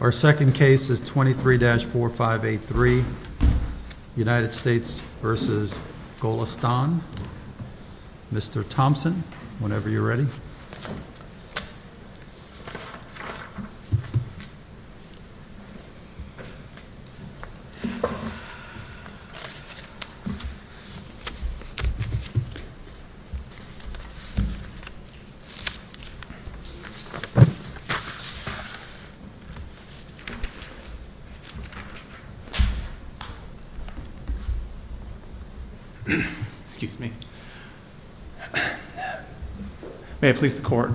Our second case is 23-4583, United States v. Golestan. Mr. Thompson, whenever you're ready. May it please the court,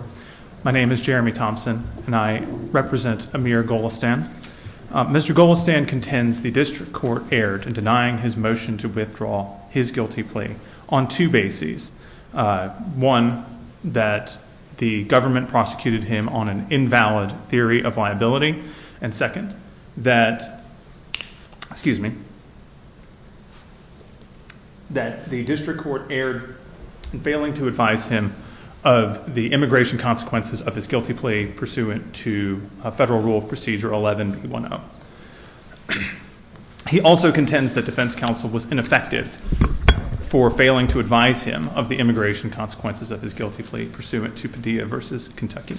my name is Jeremy Thompson and I represent Amir Golestan. Mr. Golestan contends the district court erred in denying his motion to withdraw his guilty plea on two bases. One, that the government prosecuted him on an invalid theory of liability. And second, that the district court erred in failing to advise him of the immigration consequences of his guilty plea pursuant to Federal Rule of Procedure 11-B10. He also contends that defense counsel was ineffective for failing to advise him of the immigration consequences of his guilty plea pursuant to Padilla v. Kentucky.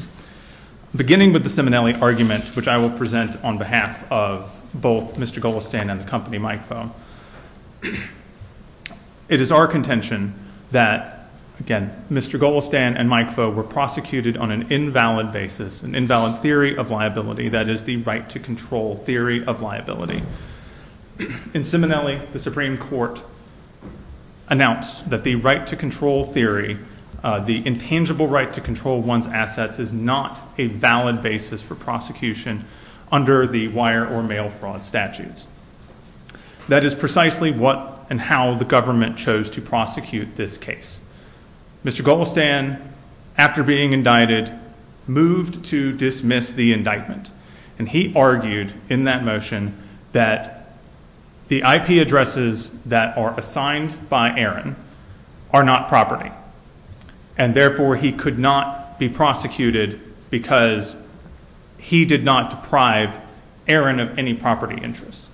Beginning with the Simonelli argument, which I will present on behalf of both Mr. Golestan and the company, Mike Foe. It is our contention that, again, Mr. Golestan and Mike Foe were prosecuted on an invalid basis, an invalid theory of liability, that is the right to control theory of liability. In Simonelli, the Supreme Court announced that the right to control theory, the intangible right to control one's assets is not a valid basis for prosecution under the wire or mail fraud statutes. That is precisely what and how the government chose to prosecute this case. Mr. Golestan, after being indicted, moved to dismiss the indictment. And he argued in that motion that the IP addresses that are assigned by Aaron are not property. And therefore, he could not be prosecuted because he did not deprive Aaron of any property interest.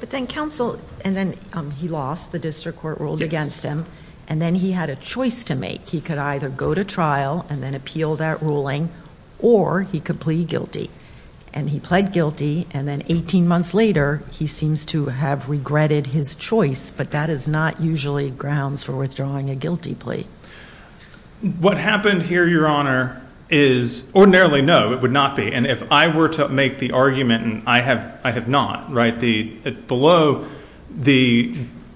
But then counsel and then he lost. The district court ruled against him. And then he had a choice to make. He could either go to trial and then appeal that ruling or he could plead guilty. And he pled guilty. And then 18 months later, he seems to have regretted his choice. But that is not usually grounds for withdrawing a guilty plea. What happened here, Your Honor, is ordinarily, no, it would not be. And if I were to make the argument, and I have not, right, below the,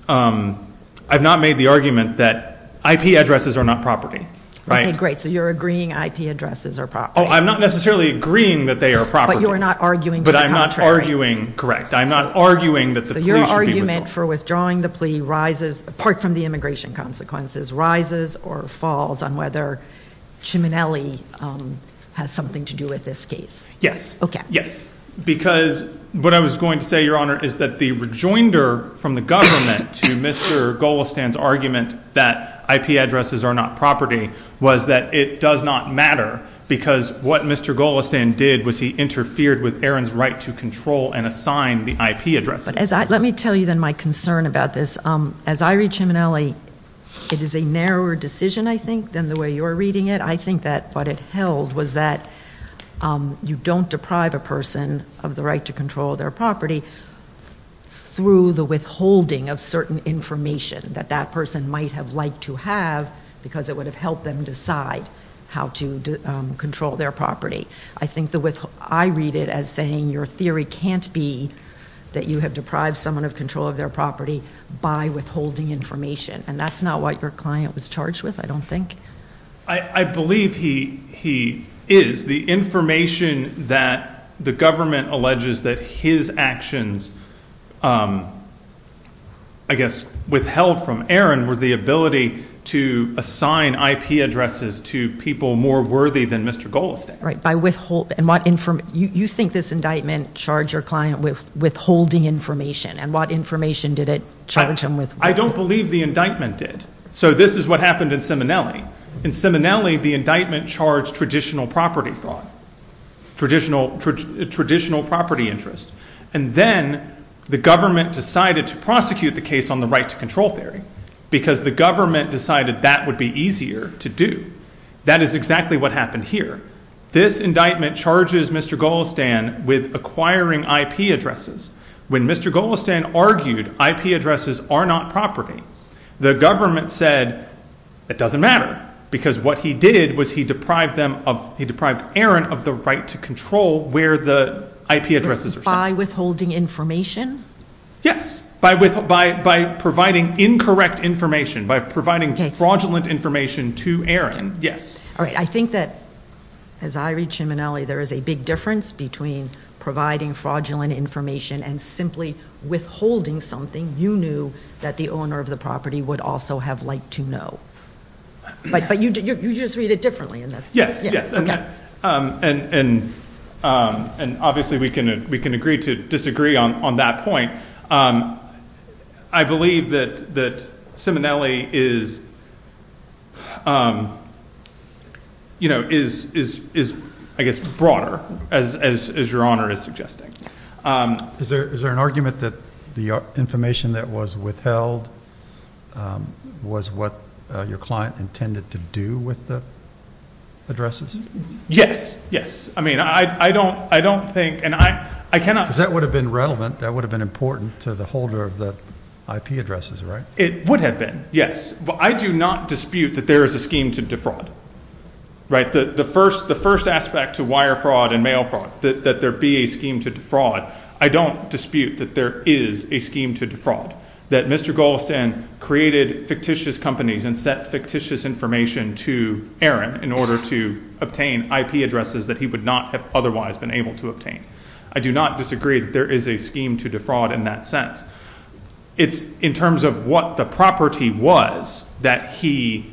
I've not made the argument that IP addresses are not property. Okay, great. So you're agreeing IP addresses are property. Oh, I'm not necessarily agreeing that they are property. But you are not arguing to the contrary. But I'm not arguing, correct. I'm not arguing that the plea should be withdrawn. So your argument for withdrawing the plea rises, apart from the immigration consequences, or falls on whether Ciminelli has something to do with this case? Yes. Okay. Yes. Because what I was going to say, Your Honor, is that the rejoinder from the government to Mr. Golestan's argument that IP addresses are not property was that it does not matter because what Mr. Golestan did was he interfered with Aaron's right to control and assign the IP address. Let me tell you, then, my concern about this. As I read Ciminelli, it is a narrower decision, I think, than the way you are reading it. I think that what it held was that you don't deprive a person of the right to control their property through the withholding of certain information that that person might have liked to have because it would have helped them decide how to control their property. I read it as saying your theory can't be that you have deprived someone of control of their property by withholding information, and that's not what your client was charged with, I don't think. I believe he is. The information that the government alleges that his actions, I guess, withheld from Aaron, were the ability to assign IP addresses to people more worthy than Mr. Golestan. You think this indictment charged your client with withholding information, and what information did it charge him with? I don't believe the indictment did. So this is what happened in Ciminelli. In Ciminelli, the indictment charged traditional property fraud, traditional property interest, and then the government decided to prosecute the case on the right to control theory because the government decided that would be easier to do. That is exactly what happened here. This indictment charges Mr. Golestan with acquiring IP addresses. When Mr. Golestan argued IP addresses are not property, the government said it doesn't matter because what he did was he deprived Aaron of the right to control where the IP addresses are sent. By withholding information? Yes, by providing incorrect information, by providing fraudulent information to Aaron. All right, I think that as I read Ciminelli, there is a big difference between providing fraudulent information and simply withholding something you knew that the owner of the property would also have liked to know. But you just read it differently. Yes, yes, and obviously we can agree to disagree on that point. I believe that Ciminelli is, I guess, broader, as Your Honor is suggesting. Is there an argument that the information that was withheld was what your client intended to do with the addresses? Yes, yes. Because that would have been relevant, that would have been important to the holder of the IP addresses, right? It would have been, yes. But I do not dispute that there is a scheme to defraud. The first aspect to wire fraud and mail fraud, that there be a scheme to defraud, I don't dispute that there is a scheme to defraud, that Mr. Golestan created fictitious companies and sent fictitious information to Aaron in order to obtain IP addresses that he would not have otherwise been able to obtain. I do not disagree that there is a scheme to defraud in that sense. It's in terms of what the property was that he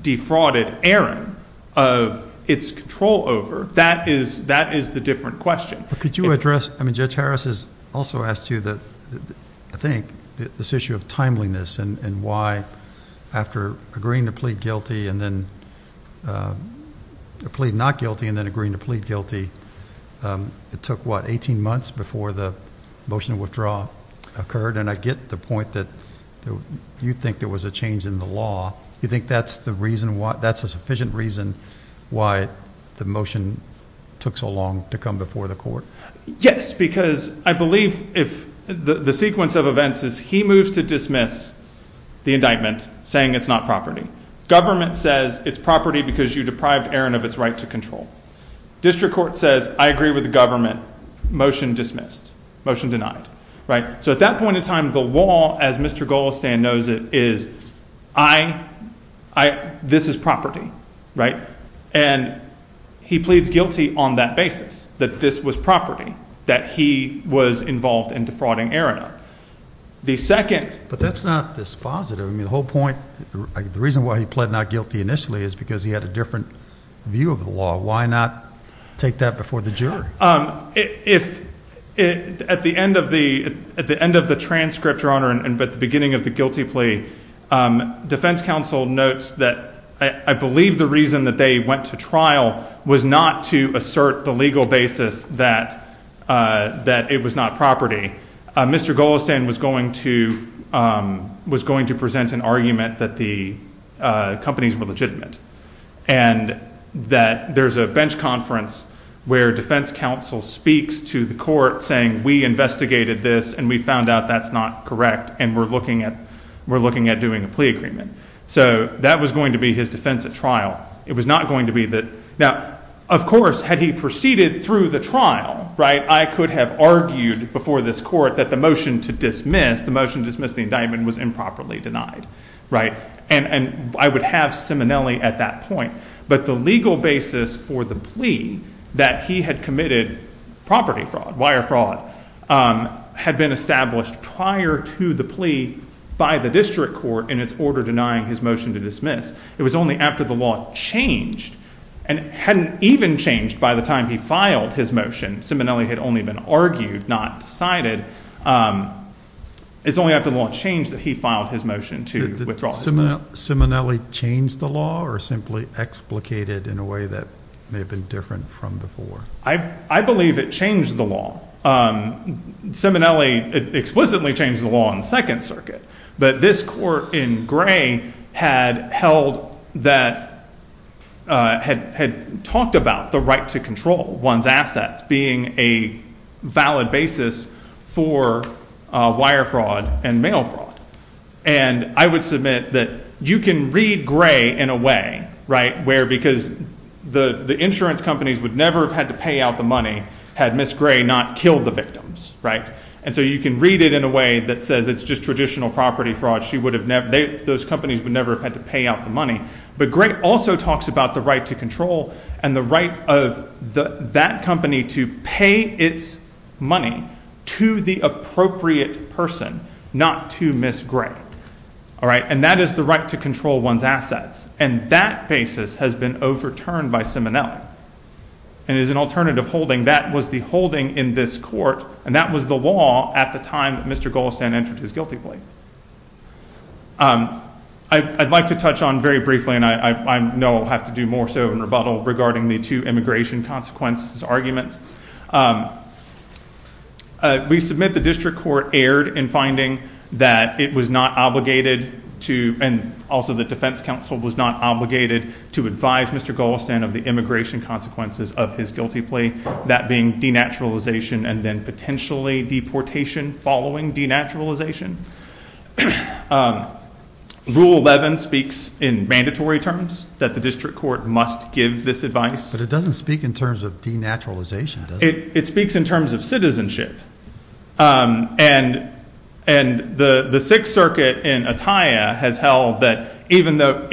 defrauded Aaron of its control over. That is the different question. Could you address, I mean, Judge Harris has also asked you, I think, this issue of timeliness and why after agreeing to plead not guilty and then agreeing to plead guilty, it took, what, 18 months before the motion to withdraw occurred? And I get the point that you think there was a change in the law. You think that's the reason why, that's a sufficient reason why the motion took so long to come before the court? Yes, because I believe if the sequence of events is he moves to dismiss the indictment saying it's not property. Government says it's property because you deprived Aaron of its right to control. District Court says I agree with the government. Motion dismissed. Motion denied. So at that point in time, the law, as Mr. Golestan knows it, is this is property, right? And he pleads guilty on that basis, that this was property, that he was involved in defrauding Aaron of. But that's not dispositive. I mean, the whole point, the reason why he pled not guilty initially is because he had a different view of the law. Why not take that before the jury? If at the end of the transcript, Your Honor, and at the beginning of the guilty plea, defense counsel notes that I believe the reason that they went to trial was not to assert the legal basis that it was not property. Mr. Golestan was going to present an argument that the companies were legitimate and that there's a bench conference where defense counsel speaks to the court saying we investigated this and we found out that's not correct and we're looking at doing a plea agreement. So that was going to be his defense at trial. It was not going to be that. Now, of course, had he proceeded through the trial, right, I could have argued before this court that the motion to dismiss, the motion to dismiss the indictment was improperly denied, right? And I would have Simonelli at that point. But the legal basis for the plea that he had committed property fraud, wire fraud, had been established prior to the plea by the district court in its order denying his motion to dismiss. It was only after the law changed and hadn't even changed by the time he filed his motion. Simonelli had only been argued, not decided. It's only after the law changed that he filed his motion to withdraw his motion. Did Simonelli change the law or simply explicated in a way that may have been different from before? I believe it changed the law. Simonelli explicitly changed the law in the Second Circuit, but this court in Gray had held that, had talked about the right to control one's assets being a valid basis for wire fraud and mail fraud. And I would submit that you can read Gray in a way, right, where because the insurance companies would never have had to pay out the money had Ms. Gray not killed the victims, right? And so you can read it in a way that says it's just traditional property fraud. She would have never – those companies would never have had to pay out the money. But Gray also talks about the right to control and the right of that company to pay its money to the appropriate person, not to Ms. Gray. All right, and that is the right to control one's assets. And that basis has been overturned by Simonelli. And as an alternative holding, that was the holding in this court, and that was the law at the time that Mr. Goldstein entered his guilty plea. I'd like to touch on very briefly, and I know I'll have to do more so in rebuttal, regarding the two immigration consequences arguments. We submit the district court erred in finding that it was not obligated to, and also the defense counsel was not obligated to advise Mr. Goldstein of the immigration consequences of his guilty plea, that being denaturalization and then potentially deportation following denaturalization. Rule 11 speaks in mandatory terms that the district court must give this advice. But it doesn't speak in terms of denaturalization, does it? It speaks in terms of citizenship. And the Sixth Circuit in Attia has held that even though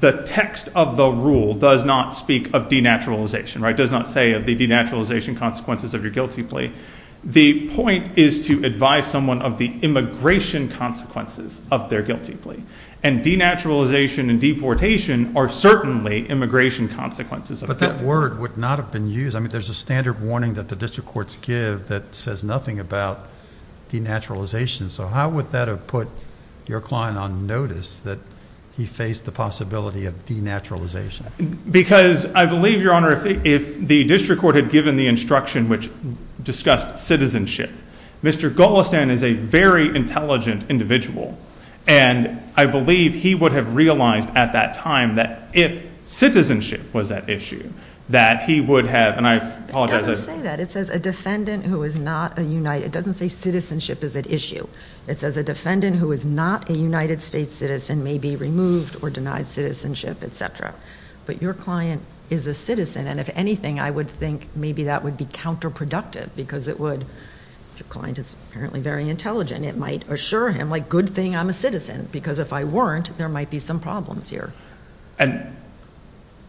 the text of the rule does not speak of denaturalization, does not say of the denaturalization consequences of your guilty plea, the point is to advise someone of the immigration consequences of their guilty plea. And denaturalization and deportation are certainly immigration consequences. But that word would not have been used. I mean there's a standard warning that the district courts give that says nothing about denaturalization. So how would that have put your client on notice that he faced the possibility of denaturalization? Because I believe, Your Honor, if the district court had given the instruction which discussed citizenship, Mr. Goldstein is a very intelligent individual. And I believe he would have realized at that time that if citizenship was at issue, that he would have, and I apologize. It doesn't say that. It says a defendant who is not a united, it doesn't say citizenship is at issue. It says a defendant who is not a United States citizen may be removed or denied citizenship, et cetera. But your client is a citizen. And if anything, I would think maybe that would be counterproductive because it would, if your client is apparently very intelligent, it might assure him, like, good thing I'm a citizen. Because if I weren't, there might be some problems here.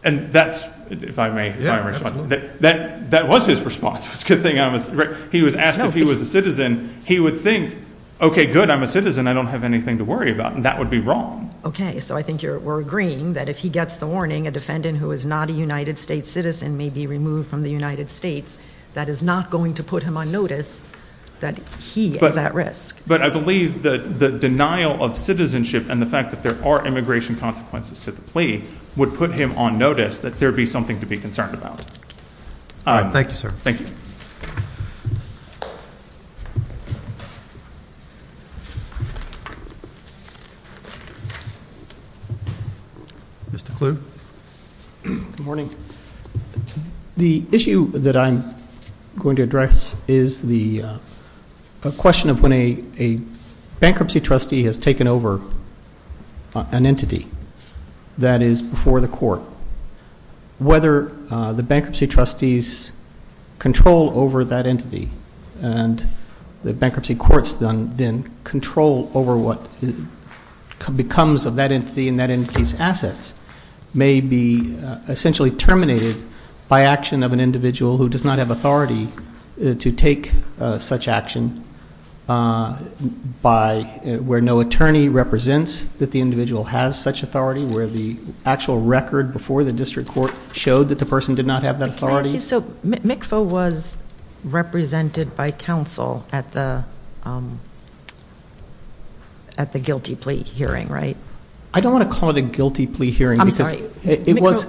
And that's, if I may, that was his response. He was asked if he was a citizen. He would think, okay, good, I'm a citizen. I don't have anything to worry about. And that would be wrong. Okay. So I think we're agreeing that if he gets the warning, a defendant who is not a United States citizen may be removed from the United States, that is not going to put him on notice that he is at risk. But I believe the denial of citizenship and the fact that there are immigration consequences to the plea would put him on notice that there would be something to be concerned about. All right. Thank you, sir. Thank you. Mr. Kluge. Good morning. The issue that I'm going to address is the question of when a bankruptcy trustee has taken over an entity that is before the court. Whether the bankruptcy trustees control over that entity and the bankruptcy courts then control over what becomes of that entity and that entity's assets may be essentially terminated by action of an individual who does not have authority to take such action where no attorney represents that the individual has such authority, where the actual record before the district court showed that the person did not have that authority. Can I ask you, so MCFA was represented by counsel at the guilty plea hearing, right? I don't want to call it a guilty plea hearing. I'm sorry. It was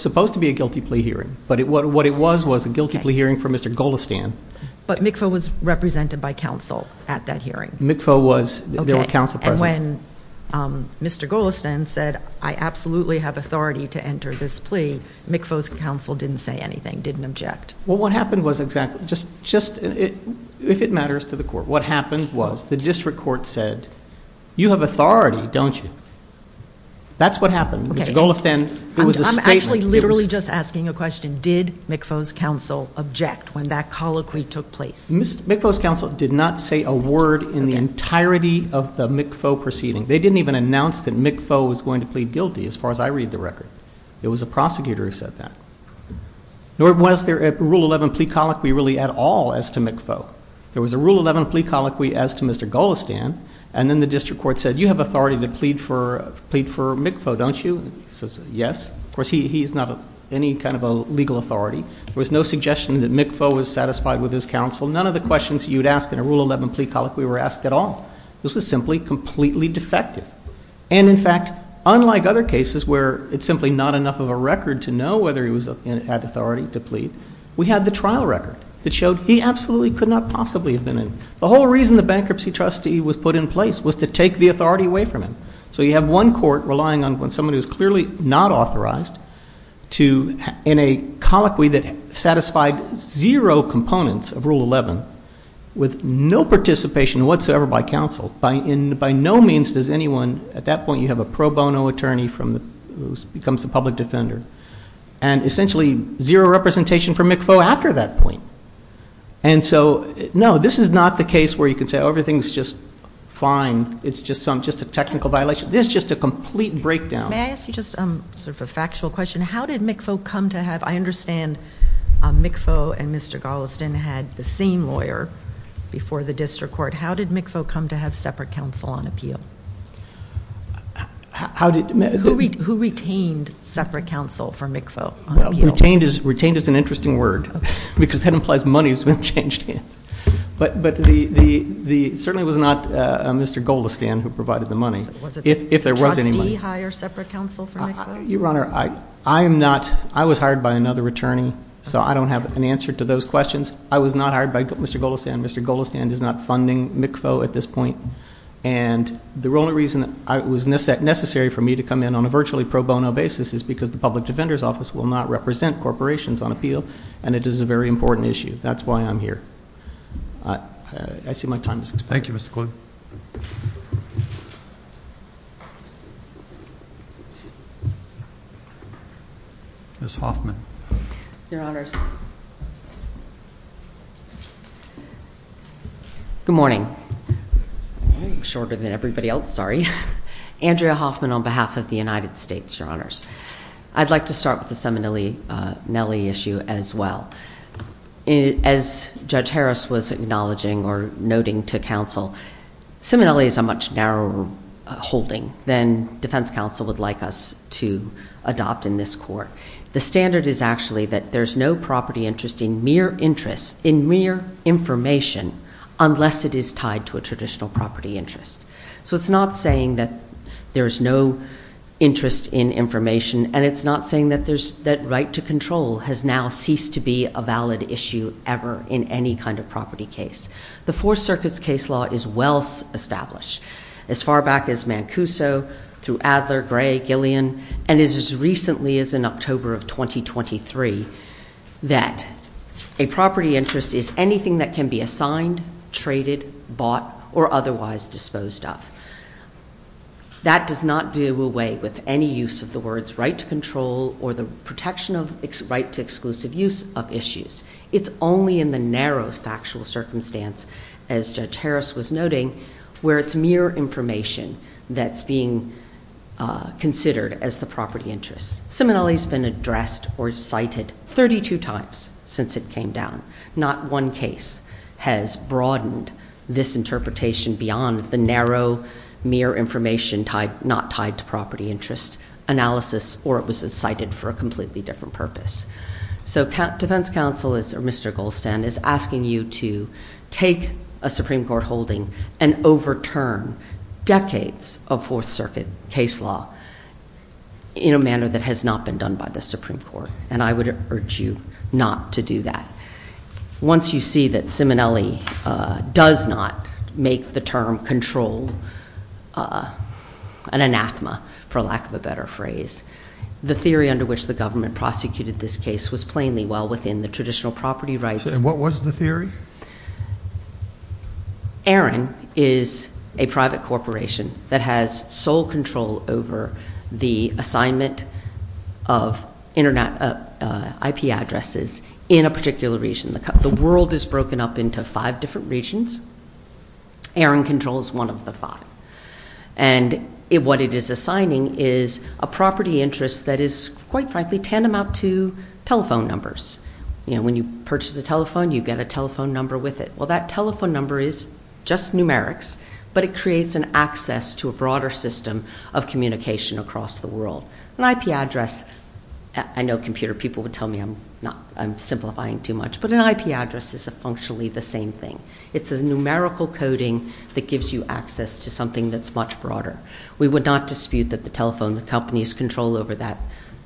supposed to be a guilty plea hearing, but what it was was a guilty plea hearing for Mr. Golestan. But MCFA was represented by counsel at that hearing. MCFA was. There were counsel present. And when Mr. Golestan said, I absolutely have authority to enter this plea, MCFA's counsel didn't say anything, didn't object. Well, what happened was exactly just if it matters to the court, what happened was the district court said, you have authority, don't you? That's what happened. Mr. Golestan, it was a statement. I'm actually literally just asking a question. Did MCFA's counsel object when that colloquy took place? MCFA's counsel did not say a word in the entirety of the MCFA proceeding. They didn't even announce that MCFA was going to plead guilty as far as I read the record. It was a prosecutor who said that. Nor was there a Rule 11 plea colloquy really at all as to MCFA. There was a Rule 11 plea colloquy as to Mr. Golestan, and then the district court said, you have authority to plead for MCFA, don't you? He says, yes. Of course, he's not any kind of a legal authority. There was no suggestion that MCFA was satisfied with his counsel. None of the questions you'd ask in a Rule 11 plea colloquy were asked at all. This was simply completely defective. And, in fact, unlike other cases where it's simply not enough of a record to know whether he was at authority to plead, we had the trial record that showed he absolutely could not possibly have been in. The whole reason the bankruptcy trustee was put in place was to take the authority away from him. So you have one court relying on someone who's clearly not authorized in a colloquy that satisfied zero components of Rule 11 with no participation whatsoever by counsel. And by no means does anyone at that point you have a pro bono attorney who becomes a public defender. And essentially zero representation for MCFA after that point. And so, no, this is not the case where you can say, oh, everything's just fine. It's just a technical violation. This is just a complete breakdown. May I ask you just sort of a factual question? How did MCFA come to have – I understand MCFA and Mr. Golestan had the same lawyer before the district court. How did MCFA come to have separate counsel on appeal? Who retained separate counsel for MCFA on appeal? Retained is an interesting word because that implies money has been changed. But certainly it was not Mr. Golestan who provided the money. If there was any money. Did the trustee hire separate counsel for MCFA? Your Honor, I am not – I was hired by another attorney, so I don't have an answer to those questions. I was not hired by Mr. Golestan. Mr. Golestan is not funding MCFA at this point. And the only reason it was necessary for me to come in on a virtually pro bono basis is because the public defender's office will not represent corporations on appeal. And it is a very important issue. That's why I'm here. I see my time is up. Thank you, Mr. Kluge. Ms. Hoffman. Your Honors. Good morning. Shorter than everybody else, sorry. Andrea Hoffman on behalf of the United States, Your Honors. I'd like to start with the Seminelli issue as well. As Judge Harris was acknowledging or noting to counsel, Seminelli is a much narrower holding than defense counsel would like us to adopt in this court. The standard is actually that there's no property interest in mere interest, in mere information, unless it is tied to a traditional property interest. So it's not saying that there's no interest in information, and it's not saying that right to control has now ceased to be a valid issue ever in any kind of property case. The Fourth Circuit's case law is well established, as far back as Mancuso, through Adler, Gray, Gillian, and as recently as in October of 2023, that a property interest is anything that can be assigned, traded, bought, or otherwise disposed of. That does not do away with any use of the words right to control or the protection of right to exclusive use of issues. It's only in the narrow factual circumstance, as Judge Harris was noting, where it's mere information that's being considered as the property interest. Seminelli's been addressed or cited 32 times since it came down. Not one case has broadened this interpretation beyond the narrow, mere information not tied to property interest analysis, or it was cited for a completely different purpose. So Defense Counsel, Mr. Goldstein, is asking you to take a Supreme Court holding and overturn decades of Fourth Circuit case law in a manner that has not been done by the Supreme Court, and I would urge you not to do that. Once you see that Seminelli does not make the term control an anathema, for lack of a better phrase, the theory under which the government prosecuted this case was plainly well within the traditional property rights. And what was the theory? ARIN is a private corporation that has sole control over the assignment of IP addresses in a particular region. The world is broken up into five different regions. ARIN controls one of the five. And what it is assigning is a property interest that is, quite frankly, tantamount to telephone numbers. You know, when you purchase a telephone, you get a telephone number with it. Well, that telephone number is just numerics, but it creates an access to a broader system of communication across the world. An IP address, I know computer people would tell me I'm simplifying too much, but an IP address is a functionally the same thing. It's a numerical coding that gives you access to something that's much broader. We would not dispute that the telephone, the company's control over that,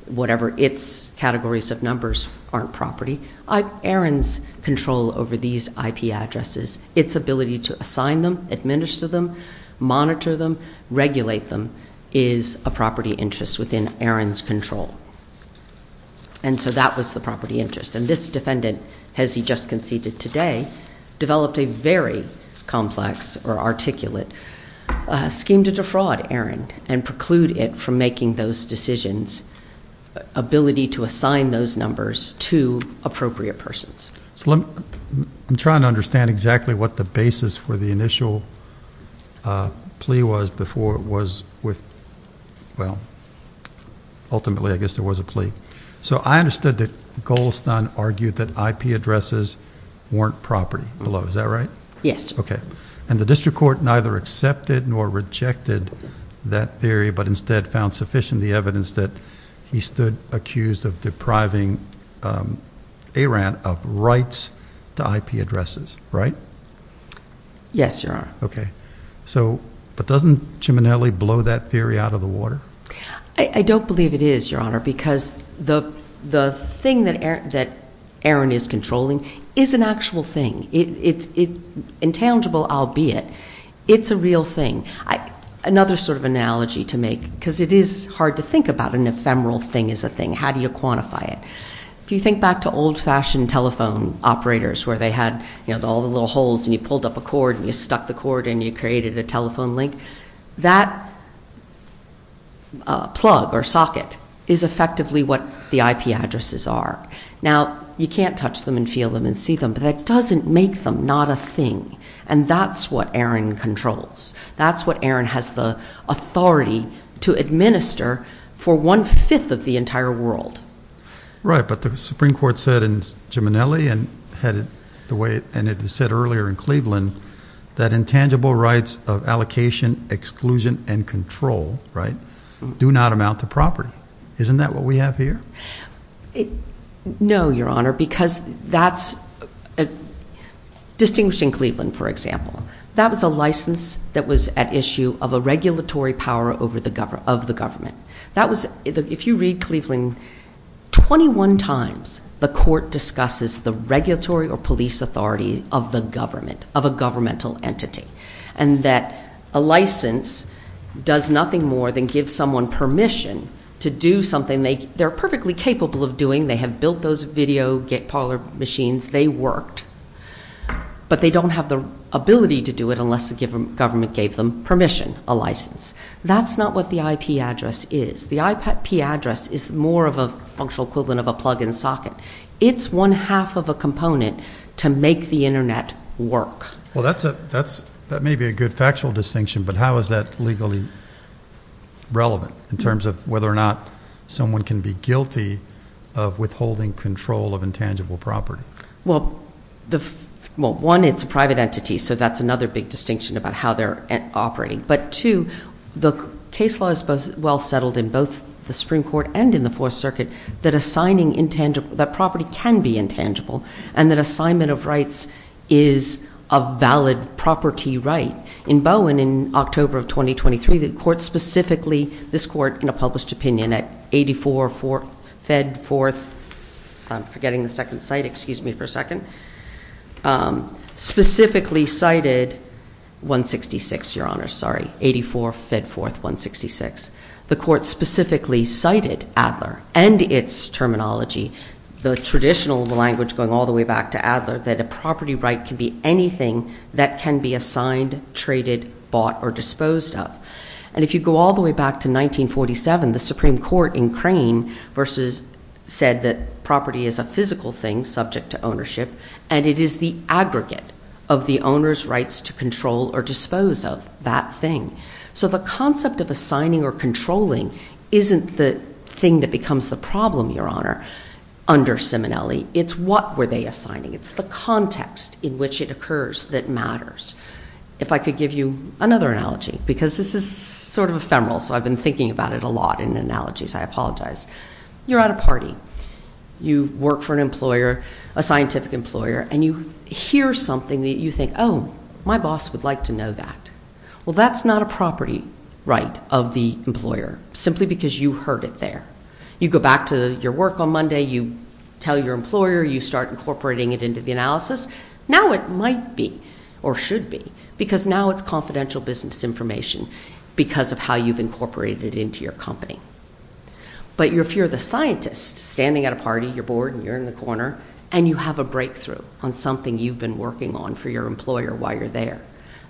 whatever its categories of numbers aren't property. ARIN's control over these IP addresses, its ability to assign them, administer them, monitor them, regulate them, is a property interest within ARIN's control. And so that was the property interest. And this defendant, as he just conceded today, developed a very complex or articulate scheme to defraud ARIN and preclude it from making those decisions, ability to assign those numbers to appropriate persons. So I'm trying to understand exactly what the basis for the initial plea was before it was with, well, ultimately I guess there was a plea. So I understood that Goldstein argued that IP addresses weren't property below, is that right? Yes. Okay. And the district court neither accepted nor rejected that theory, but instead found sufficient the evidence that he stood accused of depriving ARIN of rights to IP addresses, right? Yes, Your Honor. Okay. So, but doesn't Ciminelli blow that theory out of the water? I don't believe it is, Your Honor, because the thing that ARIN is controlling is an actual thing. It's intangible, albeit. It's a real thing. Another sort of analogy to make, because it is hard to think about an ephemeral thing as a thing. How do you quantify it? If you think back to old-fashioned telephone operators where they had, you know, all the little holes and you pulled up a cord and you stuck the cord and you created a telephone link, that plug or socket is effectively what the IP addresses are. Now, you can't touch them and feel them and see them, but that doesn't make them not a thing, and that's what ARIN controls. That's what ARIN has the authority to administer for one-fifth of the entire world. Right, but the Supreme Court said in Ciminelli and it was said earlier in Cleveland that intangible rights of allocation, exclusion, and control, right, do not amount to property. Isn't that what we have here? No, Your Honor, because that's distinguishing Cleveland, for example. That was a license that was at issue of a regulatory power of the government. If you read Cleveland, 21 times the court discusses the regulatory or police authority of the government, of a governmental entity, and that a license does nothing more than give someone permission to do something they're perfectly capable of doing. They have built those video parlor machines. They worked, but they don't have the ability to do it unless the government gave them permission, a license. That's not what the IP address is. The IP address is more of a functional equivalent of a plug-in socket. It's one-half of a component to make the Internet work. Well, that may be a good factual distinction, but how is that legally relevant in terms of whether or not someone can be guilty of withholding control of intangible property? Well, one, it's a private entity, so that's another big distinction about how they're operating. But two, the case law is well settled in both the Supreme Court and in the Fourth Circuit that property can be intangible and that assignment of rights is a valid property right. In Bowen, in October of 2023, the court specifically, this court in a published opinion, and at 84 Fedforth, I'm forgetting the second site, excuse me for a second, specifically cited 166, Your Honor, sorry, 84 Fedforth 166. The court specifically cited Adler and its terminology, the traditional language going all the way back to Adler, that a property right can be anything that can be assigned, traded, bought, or disposed of. And if you go all the way back to 1947, the Supreme Court in Crane said that property is a physical thing subject to ownership and it is the aggregate of the owner's rights to control or dispose of that thing. So the concept of assigning or controlling isn't the thing that becomes the problem, Your Honor, under Simonelli, it's what were they assigning. It's the context in which it occurs that matters. If I could give you another analogy, because this is sort of ephemeral, so I've been thinking about it a lot in analogies, I apologize. You're at a party. You work for an employer, a scientific employer, and you hear something that you think, oh, my boss would like to know that. Well, that's not a property right of the employer, simply because you heard it there. You go back to your work on Monday, you tell your employer, you start incorporating it into the analysis. Now it might be, or should be, because now it's confidential business information because of how you've incorporated it into your company. But if you're the scientist standing at a party, you're bored and you're in the corner, and you have a breakthrough on something you've been working on for your employer while you're there,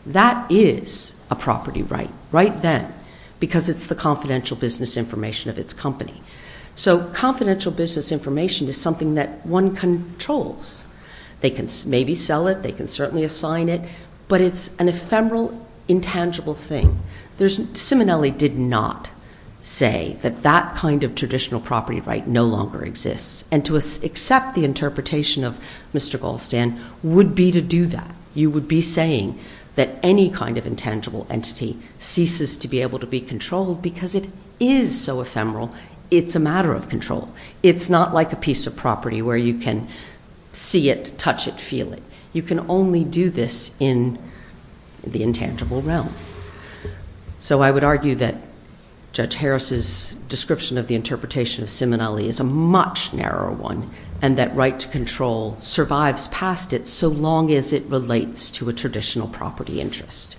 that is a property right, right then, because it's the confidential business information of its company. So confidential business information is something that one controls. They can maybe sell it, they can certainly assign it, but it's an ephemeral, intangible thing. Simonelli did not say that that kind of traditional property right no longer exists, and to accept the interpretation of Mr. Goldstein would be to do that. You would be saying that any kind of intangible entity ceases to be able to be controlled because it is so ephemeral. It's a matter of control. It's not like a piece of property where you can see it, touch it, feel it. You can only do this in the intangible realm. So I would argue that Judge Harris's description of the interpretation of Simonelli is a much narrower one and that right to control survives past it so long as it relates to a traditional property interest,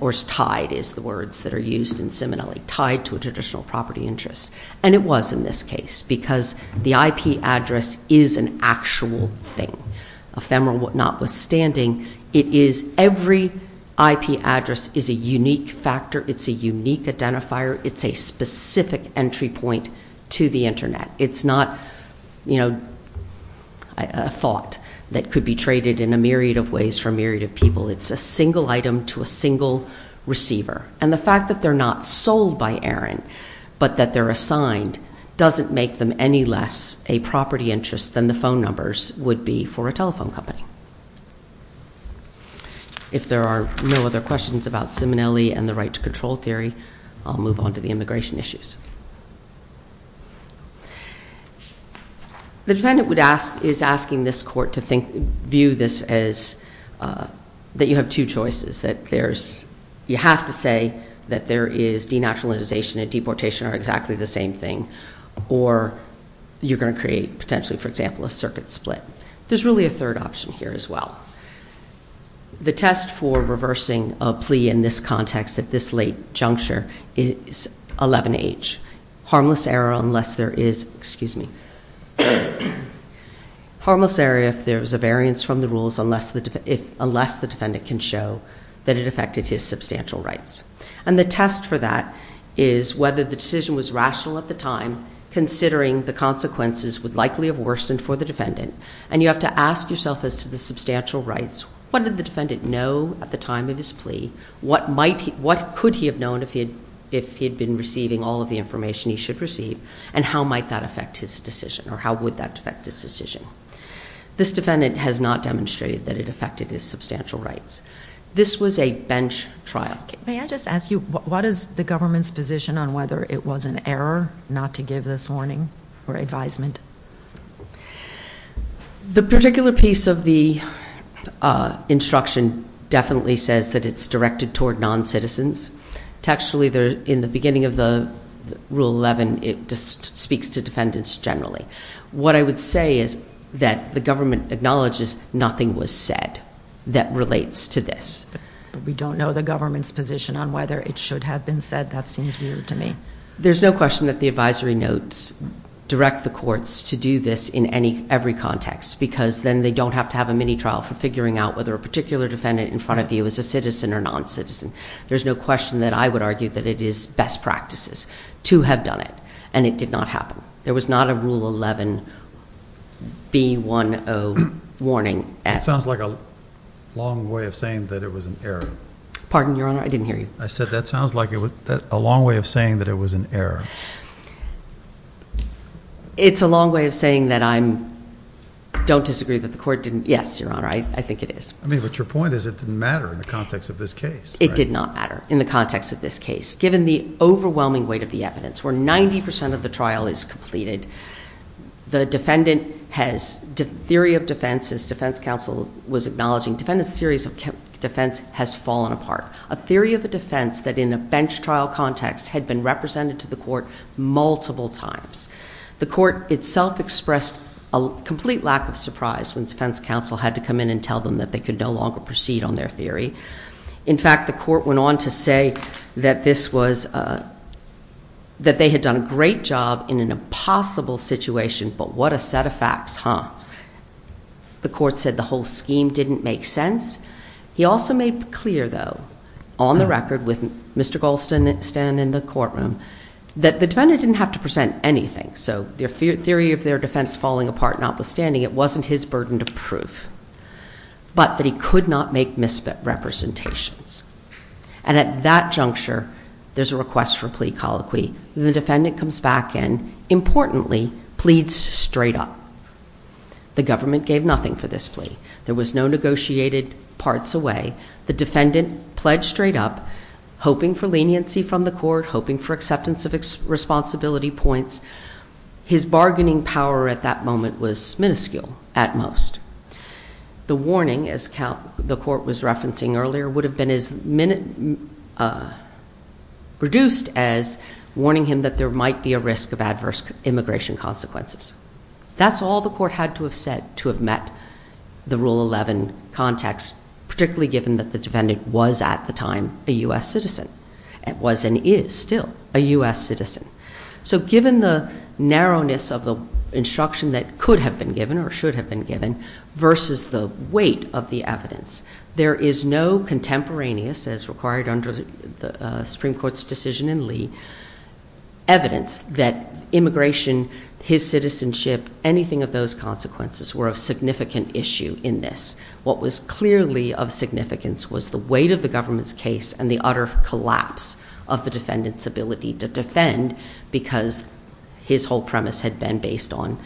or tied is the words that are used in Simonelli, tied to a traditional property interest. And it was in this case because the IP address is an actual thing, ephemeral notwithstanding. It is every IP address is a unique factor. It's a unique identifier. It's a specific entry point to the Internet. It's not, you know, a thought that could be traded in a myriad of ways for a myriad of people. It's a single item to a single receiver. And the fact that they're not sold by Aaron but that they're assigned doesn't make them any less a property interest than the phone numbers would be for a telephone company. If there are no other questions about Simonelli and the right to control theory, I'll move on to the immigration issues. The defendant is asking this court to view this as that you have two choices, that you have to say that there is denaturalization and deportation are exactly the same thing or you're going to create potentially, for example, a circuit split. There's really a third option here as well. The test for reversing a plea in this context at this late juncture is 11H. Harmless error unless there is, excuse me, harmless error if there's a variance from the rules unless the defendant can show that it affected his substantial rights. And the test for that is whether the decision was rational at the time, considering the consequences would likely have worsened for the defendant, and you have to ask yourself as to the substantial rights. What did the defendant know at the time of his plea? What could he have known if he had been receiving all of the information he should receive and how might that affect his decision or how would that affect his decision? This defendant has not demonstrated that it affected his substantial rights. This was a bench trial. May I just ask you what is the government's position on whether it was an error not to give this warning or advisement? The particular piece of the instruction definitely says that it's directed toward noncitizens. Textually, in the beginning of Rule 11, it just speaks to defendants generally. What I would say is that the government acknowledges nothing was said that relates to this. We don't know the government's position on whether it should have been said. That seems weird to me. There's no question that the advisory notes direct the courts to do this in every context because then they don't have to have a mini trial for figuring out whether a particular defendant in front of you is a citizen or noncitizen. There's no question that I would argue that it is best practices to have done it, and it did not happen. There was not a Rule 11 B10 warning. That sounds like a long way of saying that it was an error. Pardon, Your Honor? I didn't hear you. I said that sounds like a long way of saying that it was an error. It's a long way of saying that I don't disagree that the court didn't. Yes, Your Honor, I think it is. I mean, but your point is it didn't matter in the context of this case, right? It did not matter in the context of this case. Given the overwhelming weight of the evidence, where 90% of the trial is completed, the defendant has, the theory of defense, as defense counsel was acknowledging, defendant's theories of defense has fallen apart. A theory of a defense that in a bench trial context had been represented to the court multiple times. The court itself expressed a complete lack of surprise when defense counsel had to come in and tell them that they could no longer proceed on their theory. In fact, the court went on to say that this was, that they had done a great job in an impossible situation, but what a set of facts, huh? The court said the whole scheme didn't make sense. He also made clear, though, on the record with Mr. Goldstein in the courtroom, that the defendant didn't have to present anything, so the theory of their defense falling apart notwithstanding, it wasn't his burden to prove, but that he could not make misrepresentations. And at that juncture, there's a request for plea colloquy. The defendant comes back and, importantly, pleads straight up. The government gave nothing for this plea. There was no negotiated parts away. The defendant pledged straight up, hoping for leniency from the court, hoping for acceptance of responsibility points. His bargaining power at that moment was minuscule at most. The warning, as the court was referencing earlier, would have been as reduced as warning him that there might be a risk of adverse immigration consequences. That's all the court had to have said to have met the Rule 11 context, particularly given that the defendant was at the time a U.S. citizen, and was and is still a U.S. citizen. So given the narrowness of the instruction that could have been given or should have been given versus the weight of the evidence, there is no contemporaneous, as required under the Supreme Court's decision in Lee, evidence that immigration, his citizenship, anything of those consequences, were of significant issue in this. What was clearly of significance was the weight of the government's case and the utter collapse of the defendant's ability to defend because his whole premise had been based on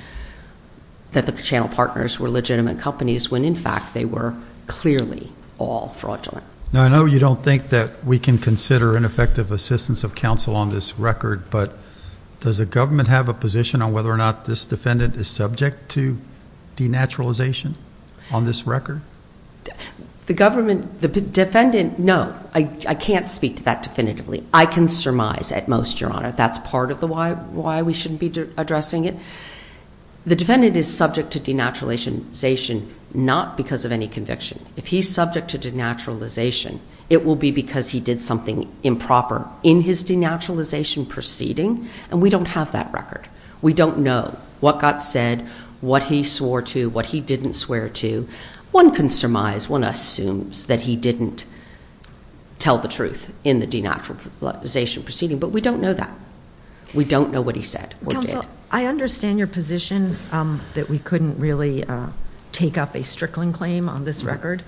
that the Channel Partners were legitimate companies, when, in fact, they were clearly all fraudulent. Now, I know you don't think that we can consider ineffective assistance of counsel on this record, but does the government have a position on whether or not this defendant is subject to denaturalization on this record? The government, the defendant, no. I can't speak to that definitively. I can surmise at most, Your Honor, that's part of why we shouldn't be addressing it. The defendant is subject to denaturalization not because of any conviction. If he's subject to denaturalization, it will be because he did something improper in his denaturalization proceeding, and we don't have that record. We don't know what got said, what he swore to, what he didn't swear to. One can surmise, one assumes that he didn't tell the truth in the denaturalization proceeding, but we don't know that. We don't know what he said or did. Well, I understand your position that we couldn't really take up a Strickland claim on this record,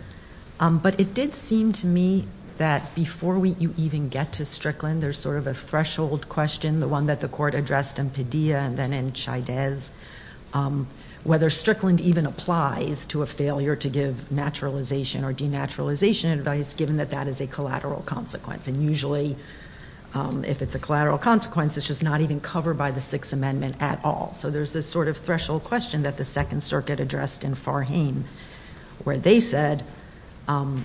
but it did seem to me that before you even get to Strickland, there's sort of a threshold question, the one that the court addressed in Padilla and then in Chaidez, whether Strickland even applies to a failure to give naturalization or denaturalization advice, given that that is a collateral consequence. And usually, if it's a collateral consequence, it's just not even covered by the Sixth Amendment at all. So there's this sort of threshold question that the Second Circuit addressed in Farhane where they said, under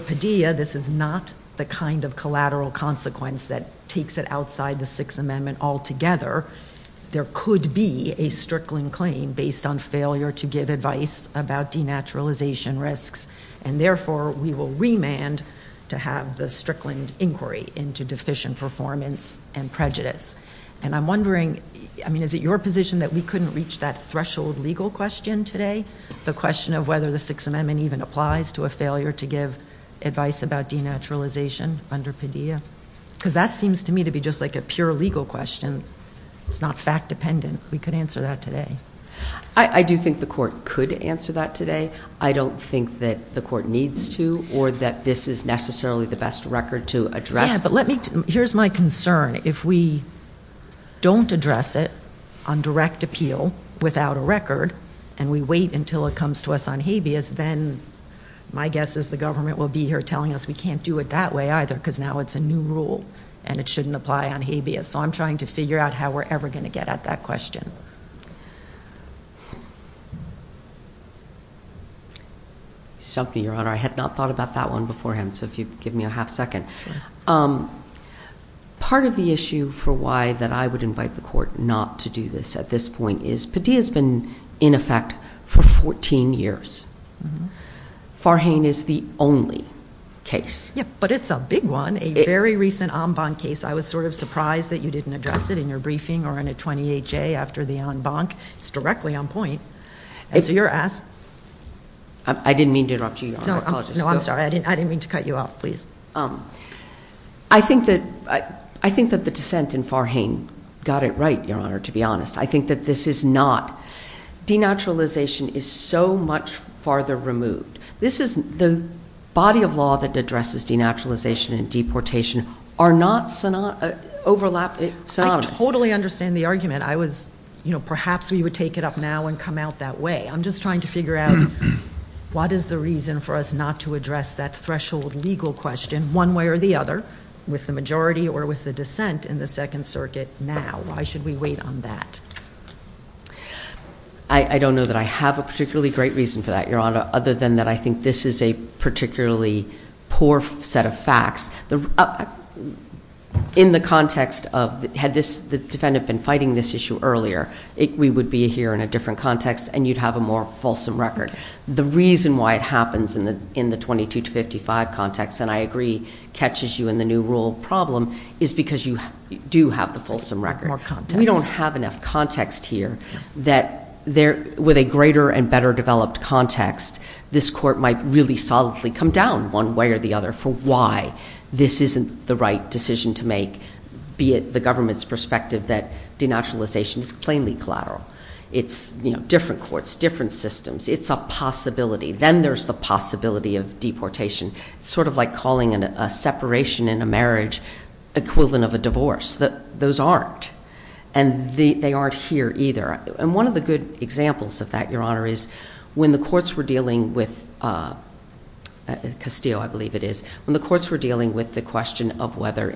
Padilla, this is not the kind of collateral consequence that takes it outside the Sixth Amendment altogether. There could be a Strickland claim based on failure to give advice about denaturalization risks, and therefore we will remand to have the Strickland inquiry into deficient performance and prejudice. And I'm wondering, I mean, is it your position that we couldn't reach that threshold legal question today, the question of whether the Sixth Amendment even applies to a failure to give advice about denaturalization under Padilla? Because that seems to me to be just like a pure legal question. It's not fact-dependent. We could answer that today. I do think the court could answer that today. I don't think that the court needs to or that this is necessarily the best record to address. Yeah, but here's my concern. If we don't address it on direct appeal without a record and we wait until it comes to us on habeas, then my guess is the government will be here telling us we can't do it that way either because now it's a new rule and it shouldn't apply on habeas. So I'm trying to figure out how we're ever going to get at that question. Something, Your Honor, I had not thought about that one beforehand, so if you'd give me a half second. Part of the issue for why that I would invite the court not to do this at this point is Padilla's been in effect for 14 years. Farhane is the only case. Yeah, but it's a big one, a very recent Ambon case. I was sort of surprised that you didn't address it in your briefing or in a 28-J after the Ambon. It's directly on point. So you're asked. I didn't mean to interrupt you, Your Honor. No, I'm sorry. I didn't mean to cut you off. Please. I think that the dissent in Farhane got it right, Your Honor, to be honest. I think that this is not. Denaturalization is so much farther removed. This is the body of law that addresses denaturalization and deportation are not synonymous. I totally understand the argument. I was, you know, perhaps we would take it up now and come out that way. I'm just trying to figure out what is the reason for us not to address that threshold legal question one way or the other with the majority or with the dissent in the Second Circuit now. Why should we wait on that? I don't know that I have a particularly great reason for that, Your Honor, other than that I think this is a particularly poor set of facts. In the context of had the defendant been fighting this issue earlier, we would be here in a different context and you'd have a more fulsome record. The reason why it happens in the 22-55 context, and I agree catches you in the new rule problem, is because you do have the fulsome record. More context. We don't have enough context here that with a greater and better developed context, this court might really solidly come down one way or the other for why this isn't the right decision to make, be it the government's perspective that denaturalization is plainly collateral. It's, you know, different courts, different systems. It's a possibility. Then there's the possibility of deportation. It's sort of like calling a separation in a marriage equivalent of a divorce. Those aren't. And they aren't here either. And one of the good examples of that, Your Honor, is when the courts were dealing with Castillo, I believe it is, when the courts were dealing with the question of whether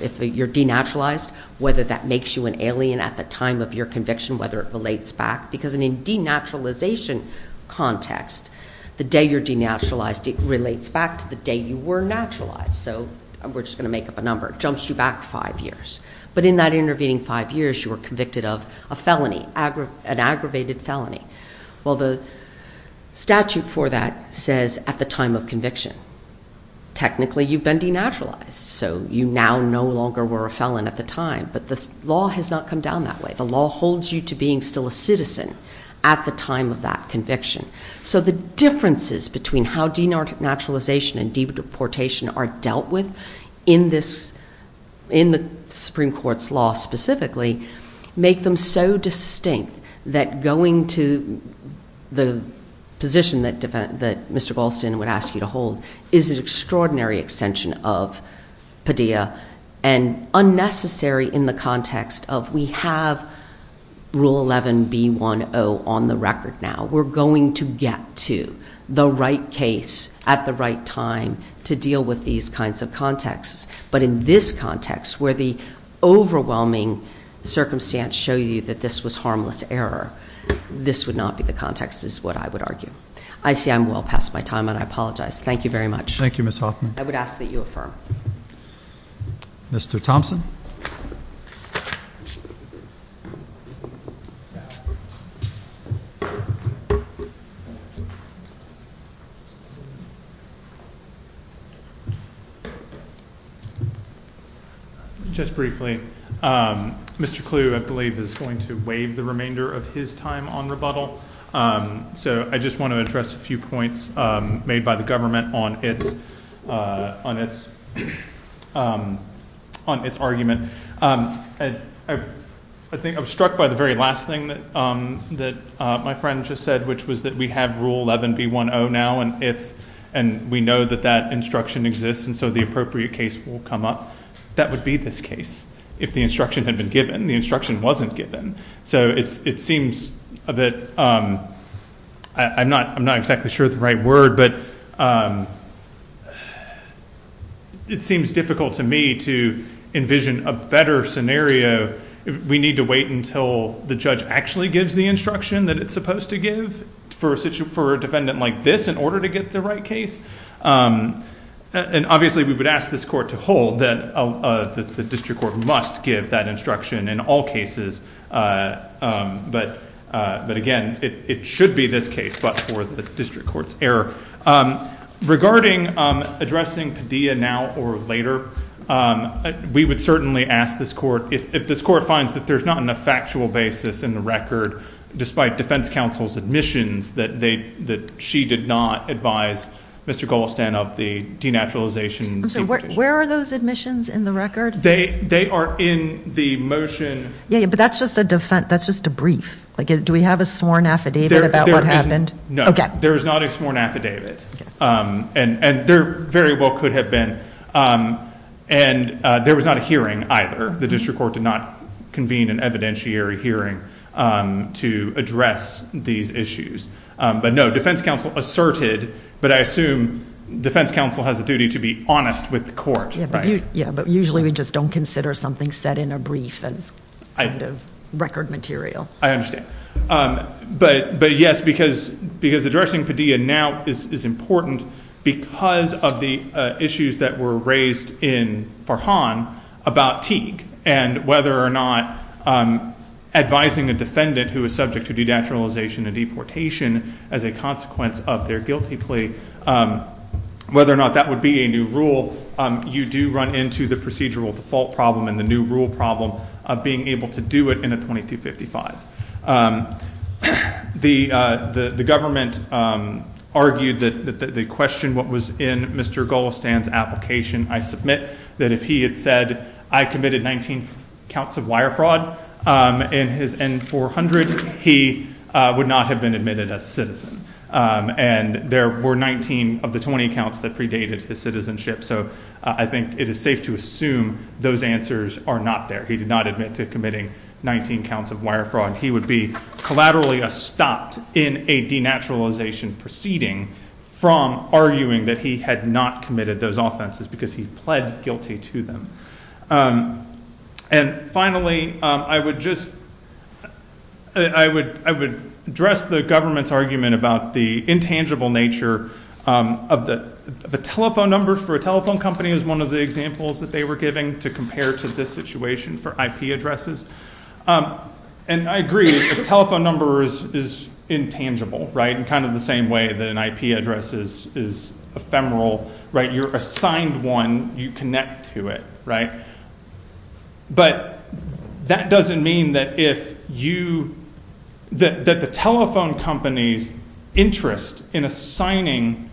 if you're denaturalized, whether that makes you an alien at the time of your conviction, whether it relates back. Because in a denaturalization context, the day you're denaturalized, it relates back to the day you were naturalized. So we're just going to make up a number. It jumps you back five years. But in that intervening five years, you were convicted of a felony, an aggravated felony. Well, the statute for that says at the time of conviction. Technically, you've been denaturalized. So you now no longer were a felon at the time. But the law has not come down that way. The law holds you to being still a citizen at the time of that conviction. So the differences between how denaturalization and deportation are dealt with in the Supreme Court's law specifically make them so distinct that going to the position that Mr. Galston would ask you to hold is an extraordinary extension of Padilla and unnecessary in the context of we have Rule 11B10 on the record now. We're going to get to the right case at the right time to deal with these kinds of contexts. But in this context, where the overwhelming circumstance show you that this was harmless error, this would not be the context is what I would argue. I see I'm well past my time, and I apologize. Thank you very much. Thank you, Ms. Hoffman. I would ask that you affirm. Mr. Thompson? Thank you. Just briefly, Mr. Clue, I believe, is going to waive the remainder of his time on rebuttal. So I just want to address a few points made by the government on its argument. I think I was struck by the very last thing that my friend just said, which was that we have Rule 11B10 now, and we know that that instruction exists, and so the appropriate case will come up. That would be this case if the instruction had been given. The instruction wasn't given. So it seems a bit ‑‑ I'm not exactly sure of the right word, but it seems difficult to me to envision a better scenario. We need to wait until the judge actually gives the instruction that it's supposed to give for a defendant like this in order to get the right case? And obviously we would ask this court to hold that the district court must give that instruction in all cases. But again, it should be this case, but for the district court's error. Regarding addressing Padilla now or later, we would certainly ask this court, if this court finds that there's not enough factual basis in the record, despite defense counsel's admissions that she did not advise Mr. Goldstein of the denaturalization. I'm sorry, where are those admissions in the record? They are in the motion. Yeah, but that's just a brief. Do we have a sworn affidavit about what happened? No, there is not a sworn affidavit. And there very well could have been. And there was not a hearing either. The district court did not convene an evidentiary hearing to address these issues. But no, defense counsel asserted, but I assume defense counsel has a duty to be honest with the court. Yeah, but usually we just don't consider something said in a brief as kind of record material. I understand. But, yes, because addressing Padilla now is important because of the issues that were raised in Farhan about Teague and whether or not advising a defendant who is subject to denaturalization and deportation as a consequence of their guilty plea, whether or not that would be a new rule, you do run into the procedural default problem and the new rule problem of being able to do it in a 2255. The government argued that they questioned what was in Mr. Golestan's application. I submit that if he had said, I committed 19 counts of wire fraud in his N-400, he would not have been admitted as a citizen. And there were 19 of the 20 counts that predated his citizenship. So I think it is safe to assume those answers are not there. He did not admit to committing 19 counts of wire fraud. He would be collaterally stopped in a denaturalization proceeding from arguing that he had not committed those offenses because he pled guilty to them. And finally, I would just – I would address the government's argument about the intangible nature of the – the telephone number for a telephone company is one of the examples that they were giving to compare to this situation for IP addresses. And I agree, the telephone number is intangible in kind of the same way that an IP address is ephemeral. You're assigned one. You connect to it. But that doesn't mean that if you – that the telephone company's interest in assigning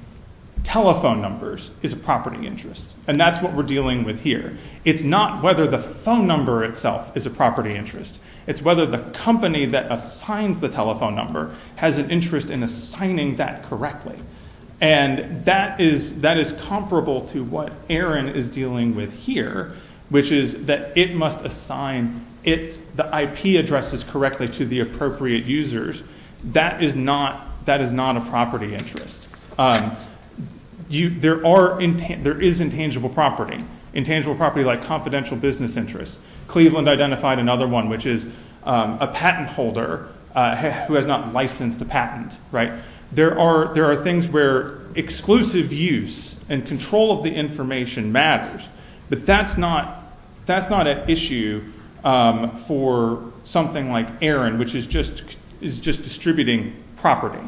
telephone numbers is a property interest. And that's what we're dealing with here. It's not whether the phone number itself is a property interest. It's whether the company that assigns the telephone number has an interest in assigning that correctly. And that is comparable to what Aaron is dealing with here, which is that it must assign its – the IP addresses correctly to the appropriate users. That is not a property interest. There are – there is intangible property, intangible property like confidential business interests. Cleveland identified another one, which is a patent holder who has not licensed a patent. There are things where exclusive use and control of the information matters. But that's not an issue for something like Aaron, which is just distributing property.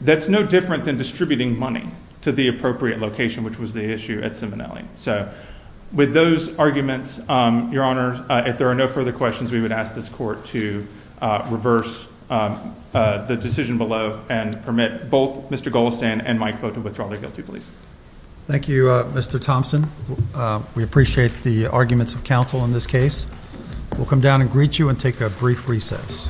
That's no different than distributing money to the appropriate location, which was the issue at Ciminelli. With those arguments, Your Honor, if there are no further questions, we would ask this court to reverse the decision below and permit both Mr. Goldstein and Mike Fote to withdraw their guilty pleas. Thank you, Mr. Thompson. We appreciate the arguments of counsel in this case. We'll come down and greet you and take a brief recess.